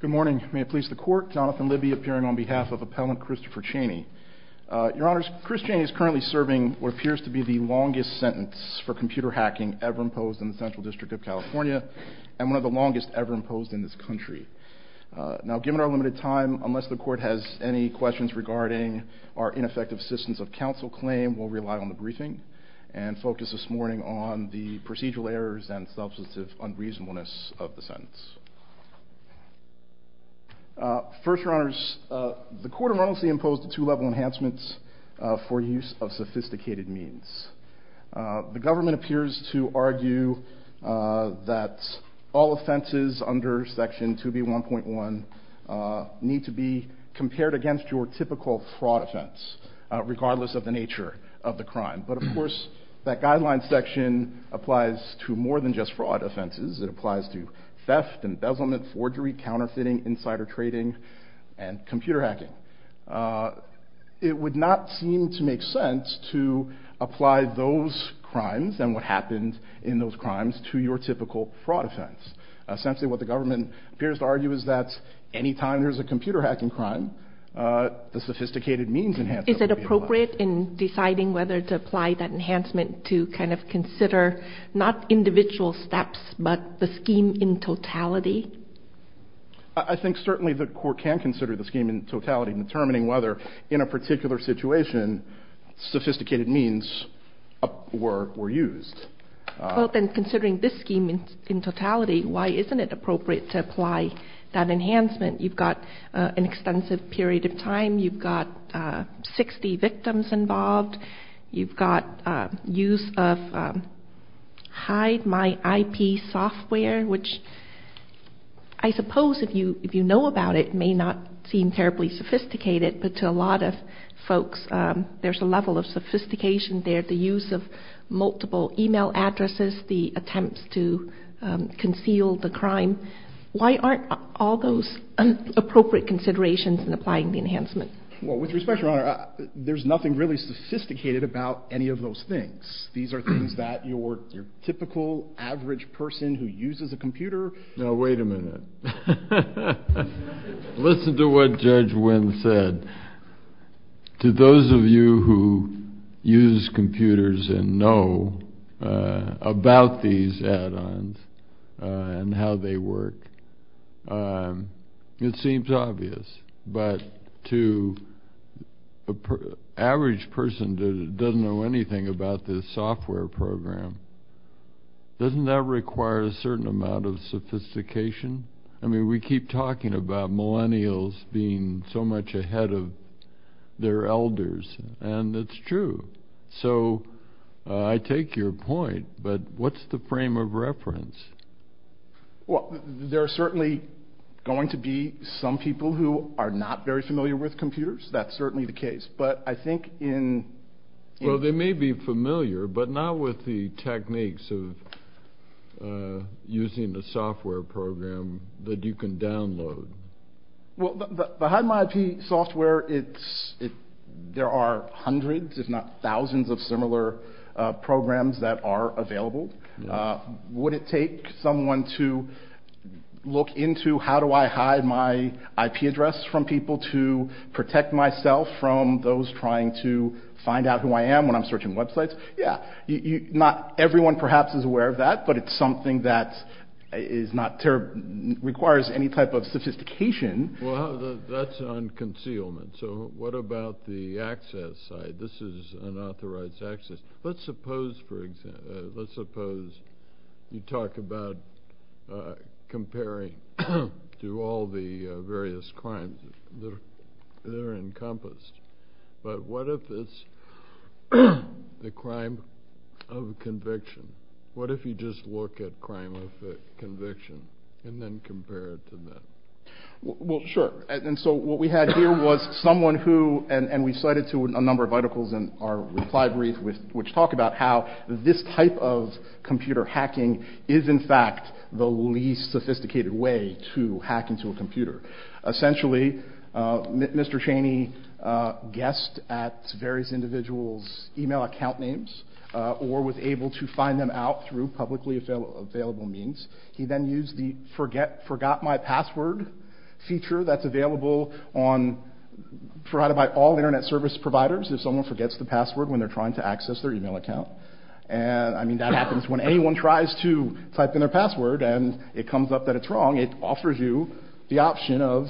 Good morning, may it please the court. Jonathan Libby appearing on behalf of appellant Christopher Chaney. Your honors, Chris Chaney is currently serving what appears to be the longest sentence for computer hacking ever imposed in the Central District of California and one of the longest ever imposed in this country. Now given our limited time, unless the court has any questions regarding our ineffective assistance of counsel claim, we'll rely on the briefing and focus this morning on the procedural errors and substantive unreasonableness of the sentence. First your honors, the court of emergency imposed two-level enhancements for use of sophisticated means. The government appears to argue that all offenses under section 2b 1.1 need to be compared against your typical fraud offense, regardless of the nature of the crime. But of course that applies to theft, embezzlement, forgery, counterfeiting, insider trading, and computer hacking. It would not seem to make sense to apply those crimes and what happened in those crimes to your typical fraud offense. Essentially what the government appears to argue is that anytime there's a computer hacking crime the sophisticated means enhancements. Is it appropriate in deciding whether to apply that enhancement to kind of consider, not individual steps, but the scheme in totality? I think certainly the court can consider the scheme in totality in determining whether in a particular situation sophisticated means were used. Well then considering this scheme in totality, why isn't it appropriate to apply that enhancement? You've got an extensive period of time, you've got 60 victims involved, you've got use of hide my IP software, which I suppose if you know about it may not seem terribly sophisticated, but to a lot of folks there's a level of sophistication there. The use of multiple email addresses, the attempts to conceal the crime. Why aren't all those appropriate considerations in there? There's nothing really sophisticated about any of those things. These are things that your typical average person who uses a computer... Now wait a minute. Listen to what Judge Wynn said. To those of you who use computers and know about these add-ons and how they work, it seems obvious, but to an average person that doesn't know anything about this software program, doesn't that require a certain amount of sophistication? I mean we keep talking about Millennials being so much ahead of their elders and it's true. So I take your point, but what's the frame of reference? Well there are certainly going to be some people who are not very familiar with computers. That's certainly the case, but I think in... Well they may be familiar, but not with the techniques of using the software program that you can download. Well the Hide My IP software, there are hundreds, if not thousands, of similar programs that are available. Would it take someone to look into how do I hide my IP address from people to protect myself from those trying to find out who I am when I'm searching websites? Yeah. Not everyone perhaps is aware of that, but it's something that requires any type of sophistication. Well that's on concealment, so what about the access side? This is unauthorized access. Let's suppose, for example, let's suppose you talk about comparing to all the various crimes that are encompassed, but what if it's the crime of conviction? What if you just look at crime of conviction and then compare it to that? Well sure, and so what we had here was someone who, and we cited to a number of articles in our reply brief which talk about how this type of computer hacking is in fact the least sophisticated way to hack into a computer. Essentially, Mr. Chaney guessed at various individuals' email account names or was able to find them out through publicly available means. He then used the forgot my password feature that's available on, provided by all internet service providers if someone forgets the password when they're trying to access their email account. And I mean that happens when anyone tries to type in their password and it comes up that it's wrong, it offers you the option of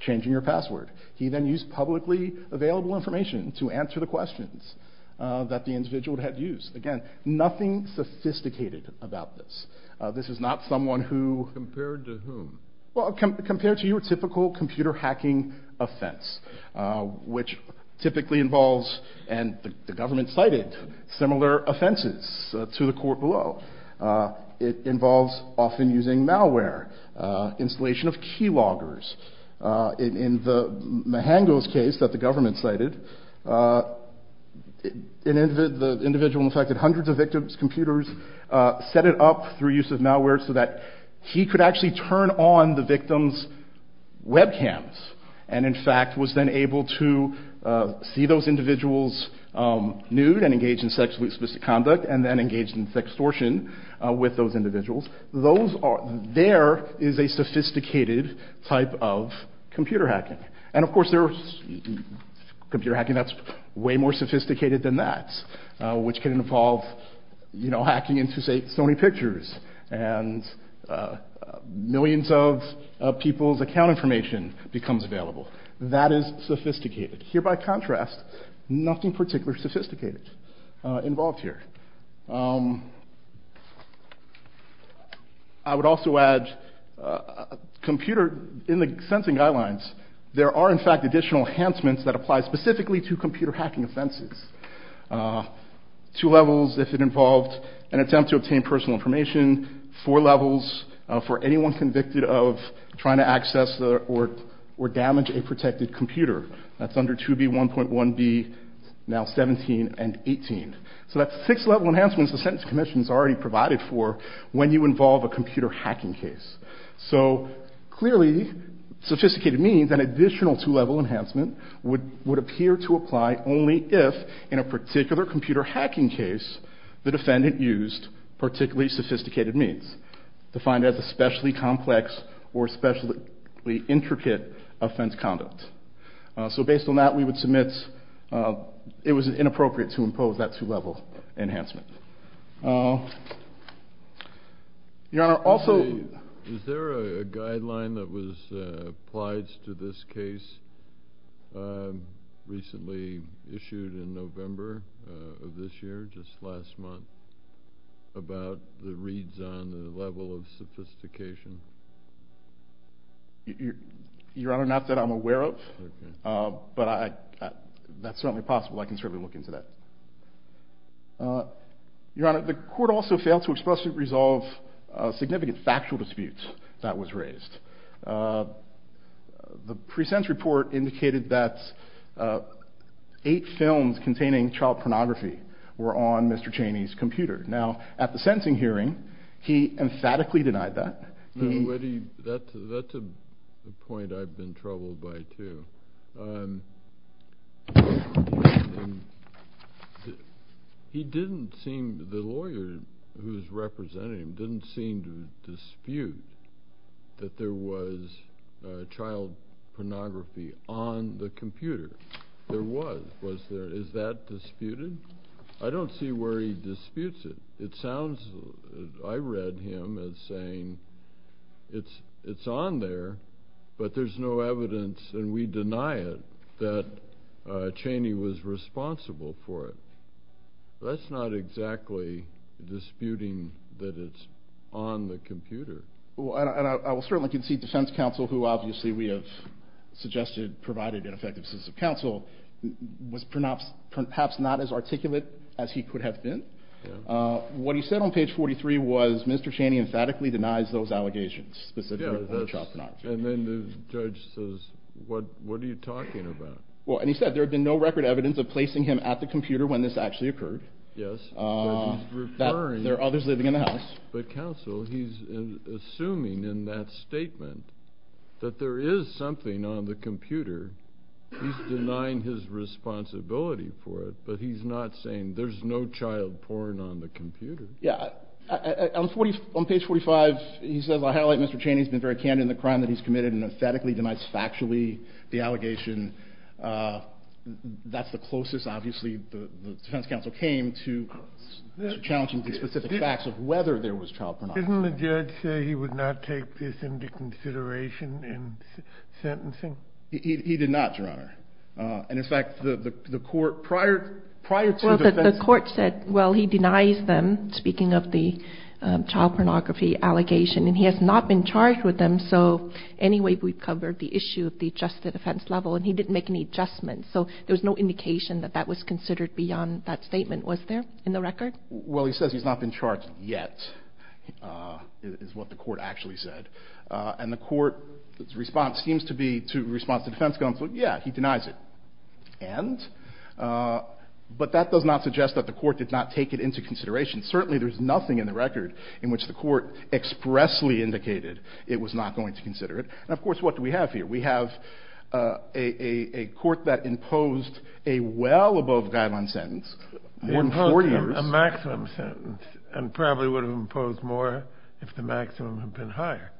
changing your password. He then used publicly available information to answer the questions that the individual had to use. Again, nothing sophisticated about this. This is not someone who... Compared to whom? Well, compared to your typical computer hacking offense, which typically involves, and the government cited, similar offenses to the court below. It involves often using malware, installation of key loggers. In the individual infected hundreds of victims' computers, set it up through use of malware so that he could actually turn on the victims' webcams and in fact was then able to see those individuals nude and engage in sexually explicit conduct and then engage in extortion with those individuals. There is a sophisticated type of computer hacking. And of course there's computer hacking that's way more sophisticated than that, which can involve hacking into, say, Sony Pictures, and millions of people's account information becomes available. That is sophisticated. Here, by contrast, nothing particularly sophisticated involved here. I would also add, in the sensing guidelines, there are in fact additional enhancements that apply specifically to computer hacking offenses. Two levels if it involved an attempt to obtain personal information. Four levels for anyone convicted of trying to access or damage a protected computer. That's under 2B, 1.1B, now 17, and 18. So that's six level enhancements the Sentencing Commission's already provided for when you involve a defendant. That means an additional two level enhancement would appear to apply only if, in a particular computer hacking case, the defendant used particularly sophisticated means. Defined as especially complex or especially intricate offense conduct. So based on that, we would submit it was inappropriate to impose that two level enhancement. Your Honor, also... Is there any information that was applied to this case recently issued in November of this year, just last month, about the reads on the level of sophistication? Your Honor, not that I'm aware of, but that's certainly possible. I can certainly look into that. Your Honor, the court also failed to expressly resolve significant factual disputes that was raised. The pre-sentence report indicated that eight films containing child pornography were on Mr. Cheney's computer. Now, at the sentencing hearing, he emphatically denied that. That's a point I've been troubled by too. He didn't seem, the lawyer who's representing him, didn't seem to dispute that there was child pornography on the computer. There was. Was there? Is that disputed? I don't see where he disputes it. It sounds, I read him as saying, it's on there, but there's no evidence, and we deny it, that that's not exactly disputing that it's on the computer. Well, I will certainly concede defense counsel, who obviously we have suggested provided an effective sense of counsel, was perhaps not as articulate as he could have been. What he said on page 43 was Mr. Cheney emphatically denies those allegations. And then the judge says, what are you talking about? Well, and he said there had been no record evidence of placing him at the computer when this actually occurred. Yes. There are others living in the house. But counsel, he's assuming in that statement that there is something on the computer. He's denying his responsibility for it, but he's not saying there's no child porn on the computer. Yeah. On page 45, he says, I highlight Mr. Cheney's been very candid in the crime that he's committed and emphatically denies factually the defense counsel came to challenging the specific facts of whether there was child pornography. Didn't the judge say he would not take this into consideration in sentencing? He did not, Your Honor. And in fact, the court prior to the defense... Well, the court said, well, he denies them, speaking of the child pornography allegation, and he has not been charged with them. So anyway, we've covered the issue of the adjusted offense level, and he didn't make any adjustments. So there was no indication that that was considered beyond that statement, was there, in the record? Well, he says he's not been charged yet, is what the court actually said. And the court's response seems to be to response to defense counsel, yeah, he denies it. And? But that does not suggest that the court did not take it into consideration. Certainly, there's nothing in the record in which the court expressly indicated it was not going to consider it. And of course, what do we have here? We have a court that imposed a well-above-guideline sentence, more than 40 years. They imposed a maximum sentence, and probably would have imposed more if the maximum had been higher.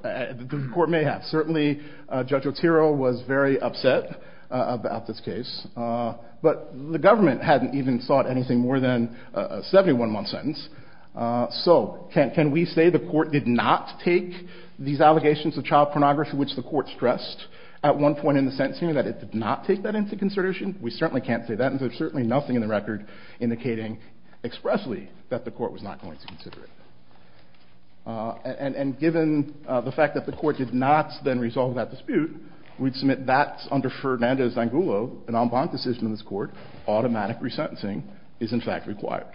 The court may have. Certainly, Judge Otero was very upset about this case. But the government hadn't even sought anything more than a 71-month sentence. So can we say the court did not take these allegations of child pornography, which the court stressed at one point in the sentencing, that it did not take that into consideration? We certainly can't say that, and there's certainly nothing in the record indicating expressly that the court was not going to consider it. And given the fact that the court did not then resolve that dispute, we'd submit that under Fernandez-Zangulo, an en banc decision in this Court, automatic resentencing is in fact required.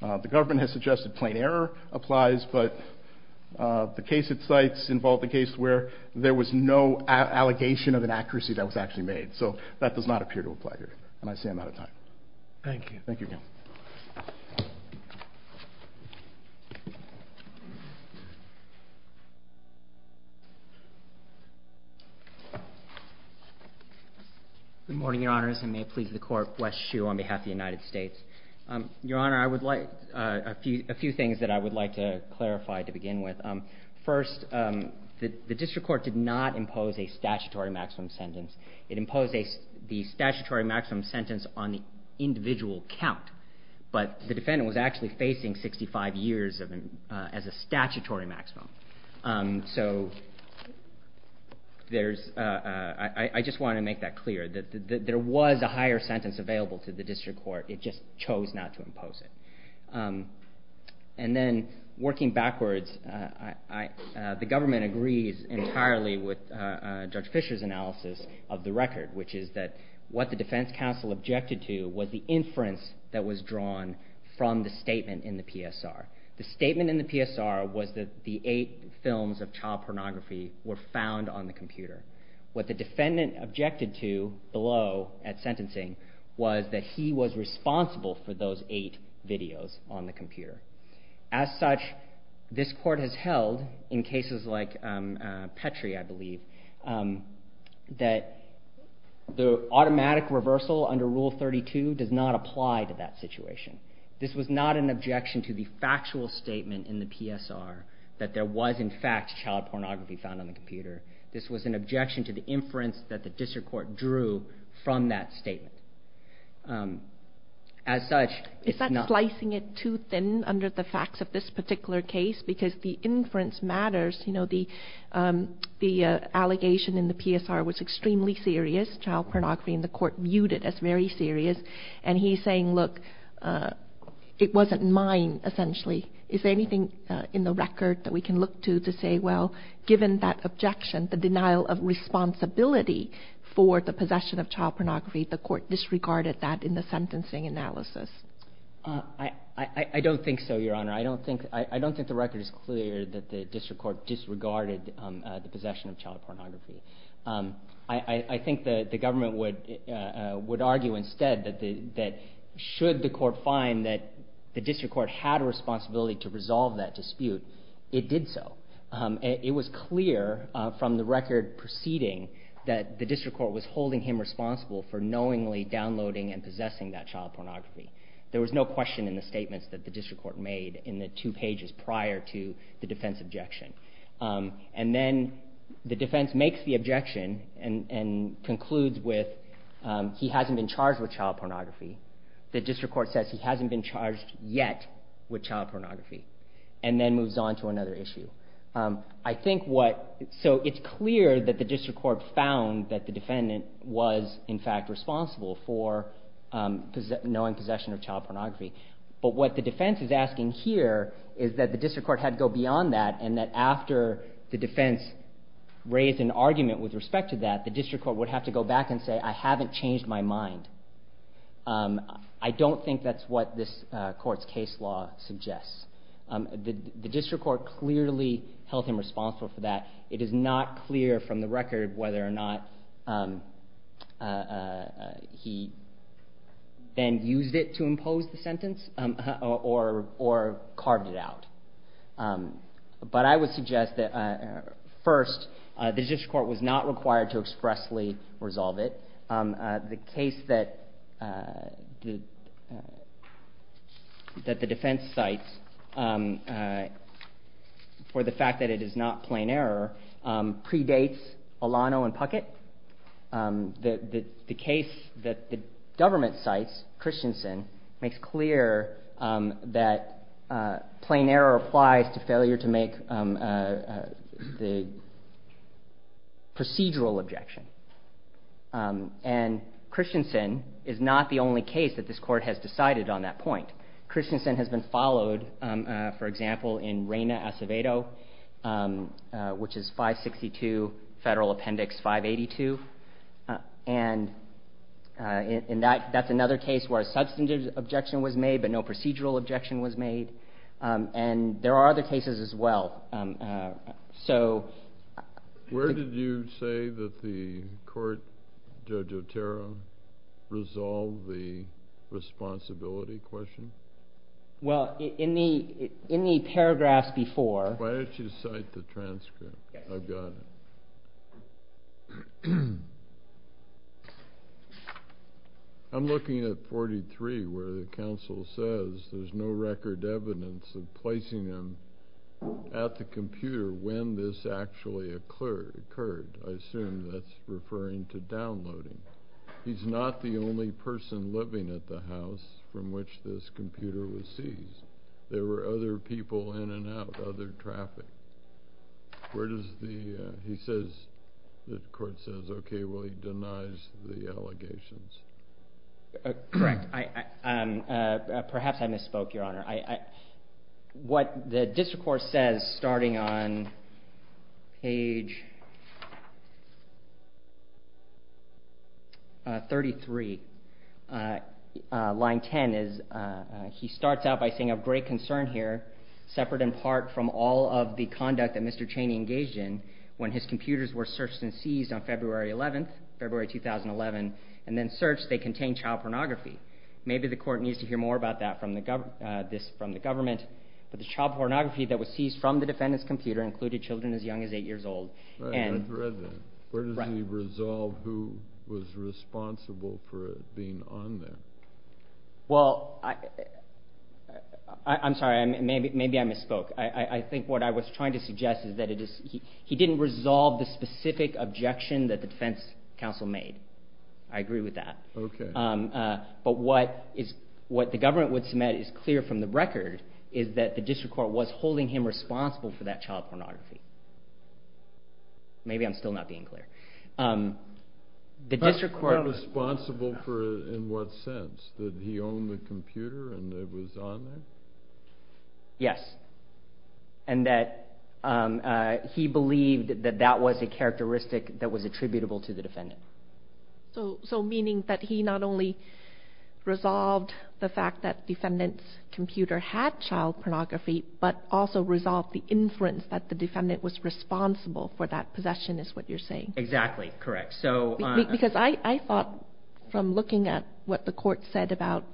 The government has suggested plain error applies, but the case it cites involved a case where there was no allegation of an accuracy that was actually made. So that does not appear to apply here. And I say I'm out of time. Thank you. Thank you again. Good morning, Your Honors, and may it please the Court, Wes Shue on behalf of the United States. Your Honor, I would like a few things that I would like to clarify to begin with. First, the district court did not impose a statutory maximum sentence. It imposed the statutory maximum sentence on the individual count, but the defendant was actually facing 65 years as a statutory maximum. So I just want to make that clear. There was a higher sentence available to the district court. It just chose not to impose it. And then, working backwards, the government agrees entirely with Judge Fischer's analysis of the record, which is that what the defense counsel objected to was the inference that was drawn from the statement in the PSR. The statement in the PSR was that the eight films of child pornography were found on the computer. What the defendant objected to below at sentencing was that he was responsible for those eight videos on the computer. As such, this court has held, in cases like Petrie, I believe, that the automatic reversal under Rule 32 does not apply to that situation. This was not an objection to the factual statement in the PSR that there were eight videos found on the computer. This was an objection to the inference that the district court drew from that statement. As such, it's not... Is that slicing it too thin under the facts of this particular case? Because the inference matters. You know, the allegation in the PSR was extremely serious. Child pornography in the court viewed it as very serious. And he's saying, look, it wasn't mine, essentially. Is there anything in the record that we can look to to say, well, given that objection, the denial of responsibility for the possession of child pornography, the court disregarded that in the sentencing analysis? I don't think so, Your Honor. I don't think the record is clear that the district court disregarded the possession of child pornography. I think the government would argue instead that should the court find that the district court had a responsibility to resolve that dispute, it did so. It was clear from the record preceding that the district court was holding him responsible for knowingly downloading and possessing that child pornography. There was no question in the statements that the district court made in the two pages prior to the defense objection. And then the defense makes the objection and concludes with he hasn't been charged with child pornography. The district court says he hasn't been charged yet with child pornography, and then moves on to another issue. So it's clear that the district court found that the defendant was, in fact, responsible for knowing possession of child pornography. But what the defense is asking here is that the district court had to go beyond that and that after the defense raised an argument with respect to that, the district court would have to go back and say, I haven't changed my mind. I don't think that's what this court's case law suggests. The district court clearly held him responsible for that. It is not clear from the record whether or not he then used it to impose the sentence or carved it out. But I would suggest that first, the district court was not required to expressly resolve it. The case that the defense cites for the fact that it is not plain error predates Alano and Puckett. The case that the government cites, Christensen, makes clear that plain error applies to failure to make the sentence procedural objection. And Christensen is not the only case that this court has decided on that point. Christensen has been followed, for example, in Reyna Acevedo, which is 562 Federal Appendix 582. And that's another case where a substantive objection was made but no procedural objection was made. And there are other cases as well. Where did you say that the court, Judge Otero, resolved the responsibility question? Well, in the paragraphs before... Why don't you cite the transcript? I've got it. I'm looking at 43 where the counsel says there's no record evidence of placing him at the computer when this actually occurred. I assume that's referring to downloading. He's not the only person living at the house from which this computer was seized. There were other people in and out, other traffic. He says, the court says, okay, well, he denies the allegations. Correct. Perhaps I misspoke, Your Honor. What the district court says, starting on page 33, line 10, is he starts out by saying, of great concern here, separate in part from all of the conduct that Mr. Cheney engaged in when his computers were searched and seized on February 11th, February 2011, and then searched, they contained child pornography. Maybe the court needs to hear more about that from the government. But the child pornography that was seized from the defendant's computer included children as young as eight years old. I've read that. Where does he resolve who was responsible for it being on there? Well, I'm sorry. Maybe I misspoke. I think what I was trying to suggest is that he didn't resolve the specific objection that the defense counsel made. I agree with that. But what the government would submit is clear from the record, is that the district court was holding him responsible for that child pornography. Maybe I'm still not being clear. The district court was responsible for it in what sense? That he owned the computer and it was on there? Yes. And that he believed that that was a characteristic that was attributable to the defendant. So meaning that he not only resolved the fact that the defendant's computer had child pornography, but also resolved the inference that the defendant was responsible for that possession is what you're saying. Exactly. Correct. Because I thought from looking at what the court said about,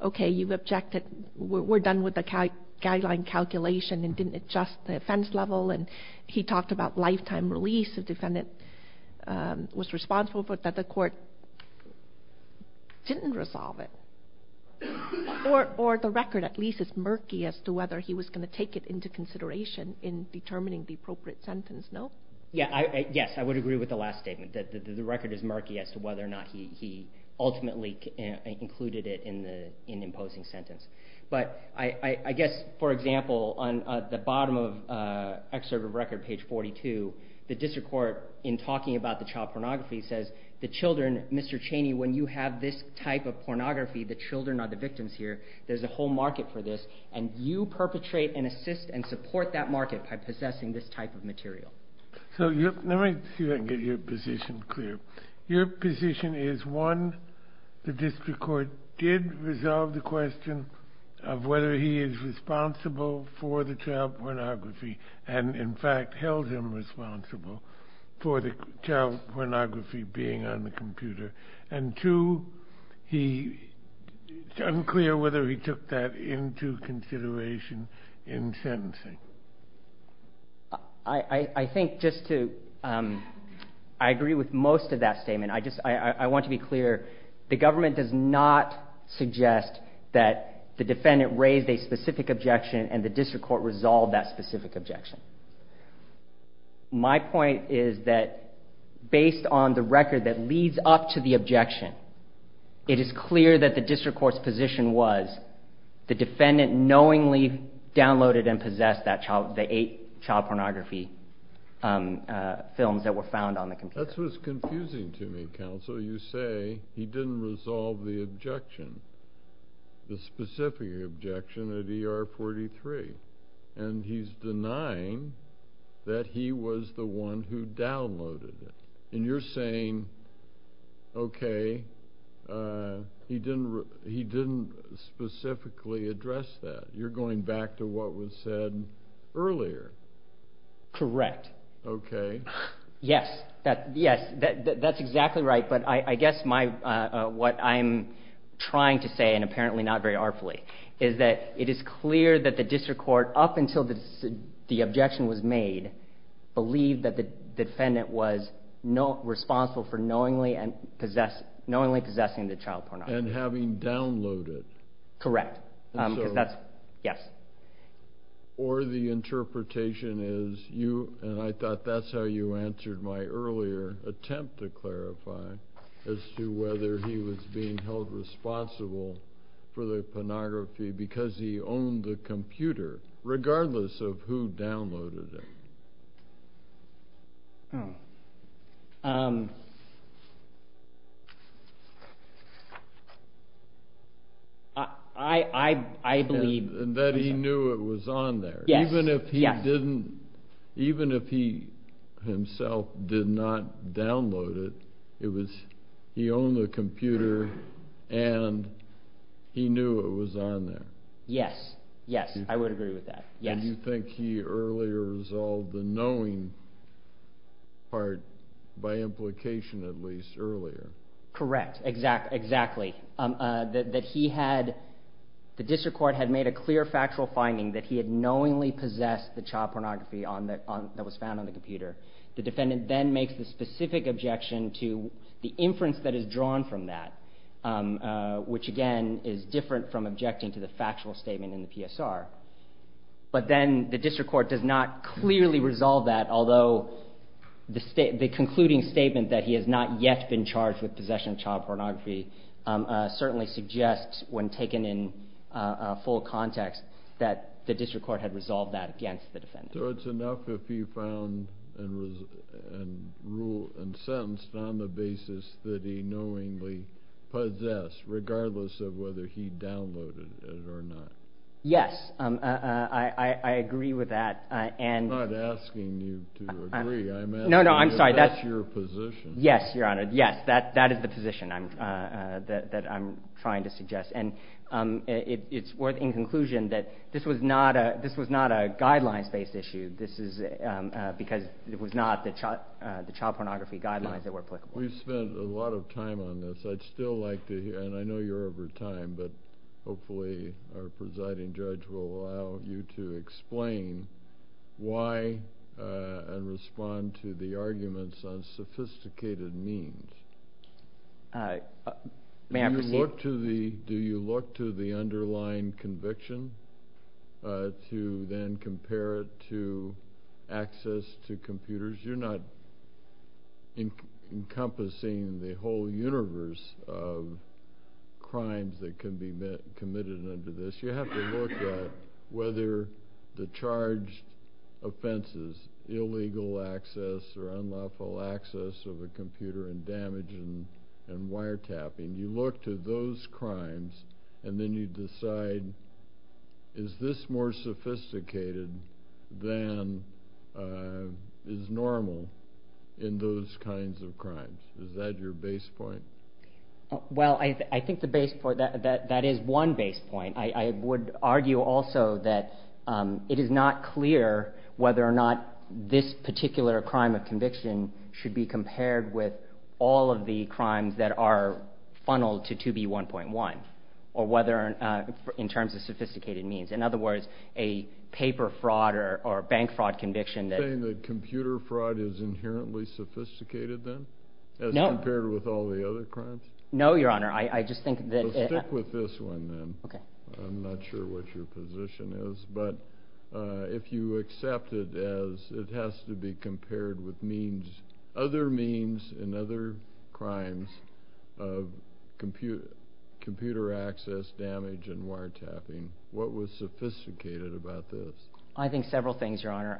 okay, you've objected. We're done with the guideline calculation and didn't adjust the offense level. And he talked about lifetime release. The defendant was responsible for it, but the court didn't resolve it. Or the record at least is murky as to whether he was going to take it into consideration in determining the appropriate sentence. No? Yes. I would agree with the last statement that the record is murky as to whether or not he ultimately included it in imposing sentence. But I guess, for example, on the bottom of excerpt of record page 42, the district court in talking about the child pornography says the children, Mr. Chaney, when you have this type of pornography, the children are the victims here. There's a whole market for this. And you perpetrate and assist and support that market by possessing this type of material. So let me see if I can get your position clear. Your position is one, the district court did resolve the question of whether he is responsible for the child pornography and in fact held him responsible for the child pornography being on the computer. And two, it's unclear whether he took that into consideration in sentencing. I think just to, I agree with most of that statement. I want to be clear. The government does not suggest that the defendant raised a specific objection and the district court resolved that specific objection. My point is that based on the record that leads up to the objection, it is clear that the district court's position was the defendant knowingly downloaded and possessed that child, the eight child pornography films that were found on the computer. That's what's confusing to me, counsel. You say he didn't resolve the objection, the specific objection at ER 43. And he's denying that he was the one who downloaded it. And you're saying, okay, he didn't specifically address that. You're going back to what happened in what was said earlier. Correct. Okay. Yes, that's exactly right. But I guess what I'm trying to say, and apparently not very artfully, is that it is clear that the district court, up until the objection was made, believed that the defendant was responsible for knowingly possessing the child pornography. And having downloaded it. Correct. Yes. Or the interpretation is you, and I thought that's how you answered my earlier attempt to clarify, as to whether he was being held responsible for the pornography because he owned the computer, regardless of who downloaded it. I believe. That he knew it was on there. Yes. Even if he himself did not download it, he owned the computer and he knew it was on there. Yes. Yes. I would agree with that. Yes. You think he earlier resolved the knowing part, by implication at least, earlier. Correct. Exactly. That he had, the district court had made a clear factual finding that he had knowingly possessed the child pornography that was found on the computer. The defendant then makes the specific objection to the inference that is drawn from that, which again is different from objecting to the factual statement in the PSR. But then the district court does not clearly resolve that, although the concluding statement that he has not yet been charged with possession of child pornography certainly suggests, when taken in full context, that the district court had resolved that against the defendant. So it's enough if he found and was, and ruled and sentenced on the basis that he knowingly possessed, regardless of whether he downloaded it or not. Yes. I agree with that. I'm not asking you to agree. I'm asking if that's your position. Yes, Your Honor. Yes. That is the position that I'm trying to suggest. And it's worth in conclusion that this was not a guidelines-based issue. This is because it was not the child pornography guidelines that were applicable. We've spent a lot of time on this. I'd still like to hear, and I know you're over time, but hopefully our presiding judge will allow you to explain why and respond to the arguments on sophisticated means. May I proceed? Do you look to the underlying conviction to then compare it to access to computers? You're not encompassing the whole universe of crimes that can be committed under this. You have to look at whether the charged offenses, illegal access or unlawful access of a computer and damage and wiretapping, you look to those crimes and then you decide, is this more sophisticated than is normal in those kinds of crimes? Is that your base point? Well, I think the base point, that is one base point. I would argue also that it is not clear whether or not this particular crime of conviction should be compared with all of the crimes that are funneled to 2B1.1, in terms of sophisticated means. In other words, a paper fraud or bank fraud conviction. You're saying that computer fraud is inherently sophisticated then? No. As compared with all the other crimes? No, Your Honor. I just think that... Well, stick with this one then. I'm not sure what your position is, but if you accept it as it has to be compared with means, other means and other crimes of computer access, damage and wiretapping, what was sophisticated about this? I think several things, Your Honor.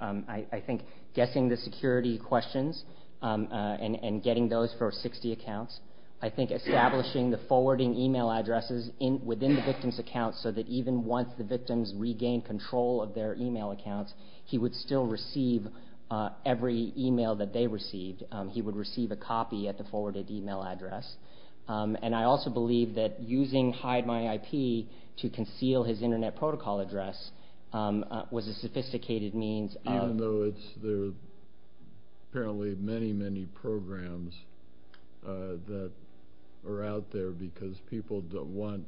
I think guessing the security questions and getting those for 60 accounts. I think establishing the forwarding email addresses within the victim's account so that even once the victims regain control of their email accounts, he would still receive every email that they received. He would receive a copy at the forwarded email address. And I also believe that using HideMyIP to conceal his internet protocol address was a sophisticated means of... Even though there are apparently many, many programs that are out there because people don't want,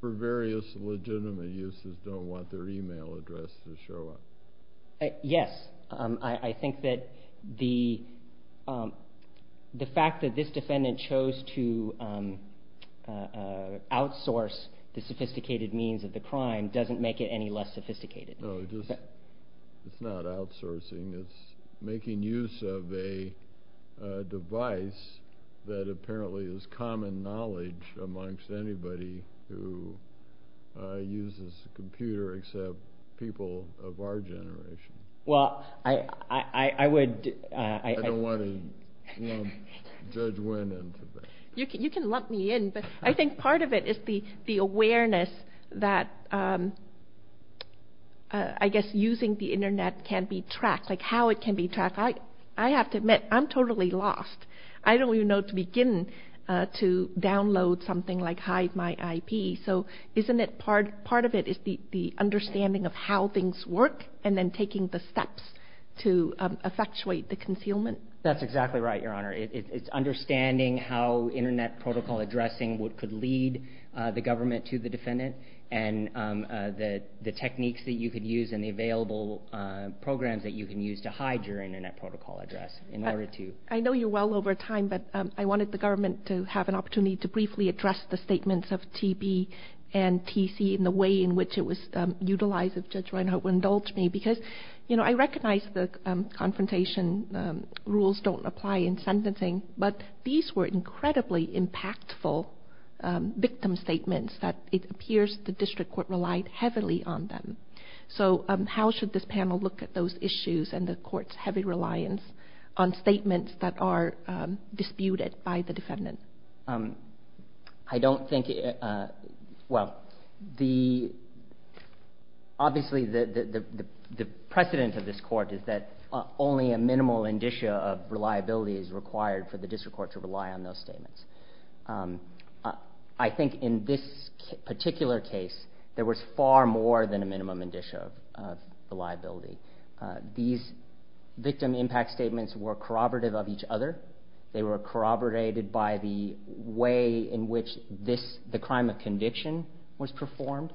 for various legitimate uses, don't want their email address to show up. Yes. I think that the fact that this defendant chose to outsource the sophisticated means of the crime doesn't make it any less sophisticated. No, it's not outsourcing. It's making use of a device that apparently is common knowledge amongst anybody who uses a computer except people of our generation. Well, I would... I don't want to lump Judge Wynn into that. You can lump me in, but I think part of it is the awareness that I guess using the internet can be tracked, like how it can be tracked. I have to admit, I'm totally lost. I don't download something like HideMyIP. So isn't it part of it is the understanding of how things work and then taking the steps to effectuate the concealment? That's exactly right, Your Honor. It's understanding how internet protocol addressing could lead the government to the defendant and the techniques that you could use and the available programs that you can use to hide your internet protocol address in order to... I know you're well over time, but I wanted the government to have an opportunity to briefly address the statements of TB and TC and the way in which it was utilized, if Judge Reinhart would indulge me, because I recognize the confrontation rules don't apply in sentencing, but these were incredibly impactful victim statements that it appears the district court relied heavily on them. So how should this panel look at those issues and the court's heavy reliance on statements that are disputed by the defendant? I don't think... well, the... obviously the precedent of this court is that only a minimal indicia of reliability is required for the district court to rely on those statements. I think in this particular case there was far more than a minimum indicia of reliability. These victim impact statements were corroborative of each other. They were corroborated by the way in which this... the crime of conviction was performed,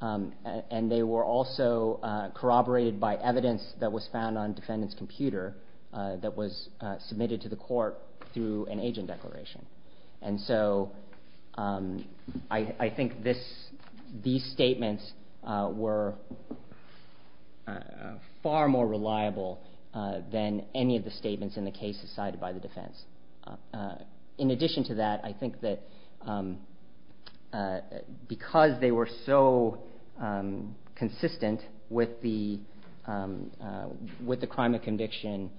and they were also corroborated by evidence that was found on defendant's computer that was submitted to the court through an agent declaration. And so I think this... these statements were... far more reliable than any of the statements in the cases cited by the defense. In addition to that, I think that because they were so consistent with the... with the crime of conviction,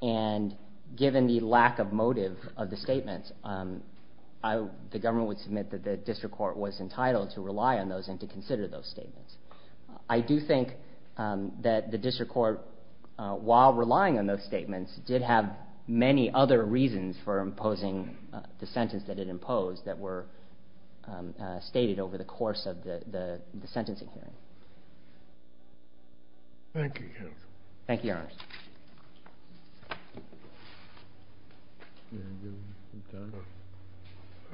and given the lack of motive of the statements, the government would submit that the district court was entitled to rely on those and to the district court, while relying on those statements, did have many other reasons for imposing the sentence that it imposed that were stated over the course of the sentencing hearing. Thank you, counsel. Thank you, Your Honor.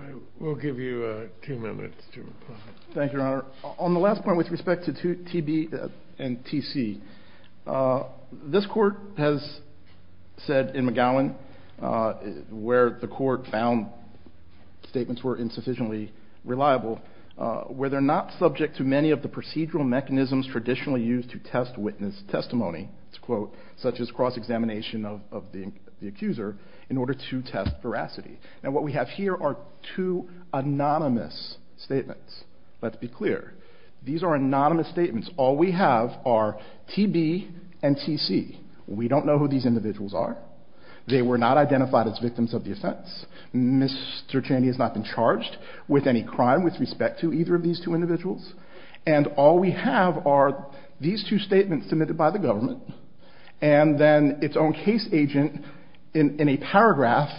I will give you two minutes to reply. Thank you, Your Honor. On the last point with respect to TB and TC, this court has said in McGowan where the court found statements were insufficiently reliable, where they're not subject to many of the procedural mechanisms traditionally used to test witness testimony, such as cross-examination of the accuser, in order to test veracity. And what we have here are two anonymous statements. Let's be clear. These are anonymous statements. All we have are TB and TC. We don't know who these individuals are. They were not identified as victims of the offense. Mr. Chaney has not been charged with any crime with respect to either of these two individuals. And all we have are these two statements submitted by the government, and then its own case agent in a paragraph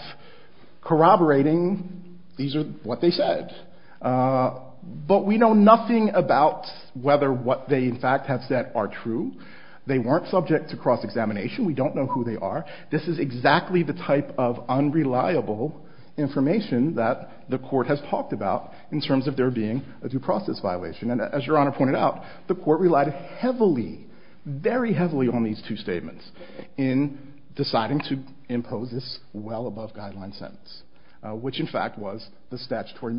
corroborating these are what they said. But we know nothing about whether what they, in fact, have said are true. They weren't subject to cross-examination. We don't know who they are. This is exactly the type of unreliable information that the court has talked about in terms of there being a due process violation. And as Your Honor pointed out, the court relied heavily, very heavily on these two statements in deciding to impose this well-above-guideline sentence, which, in fact, was the statutory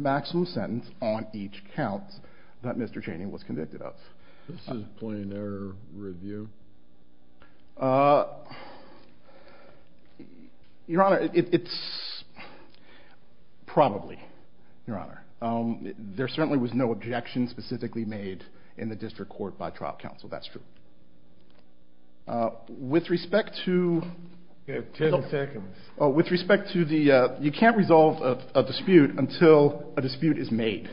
Your Honor, it's probably, Your Honor. There certainly was no objection specifically made in the district court by trial counsel. That's true. With respect to... You have 10 seconds. With respect to the... You can't resolve a dispute until a dispute is made.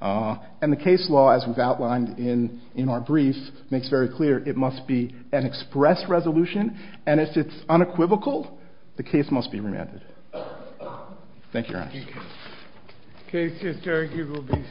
And the case law, as was outlined in our brief, makes very clear it must be an express resolution, and if it's unequivocal, the case must be remanded. Thank you, Your Honor. The case is adjourned.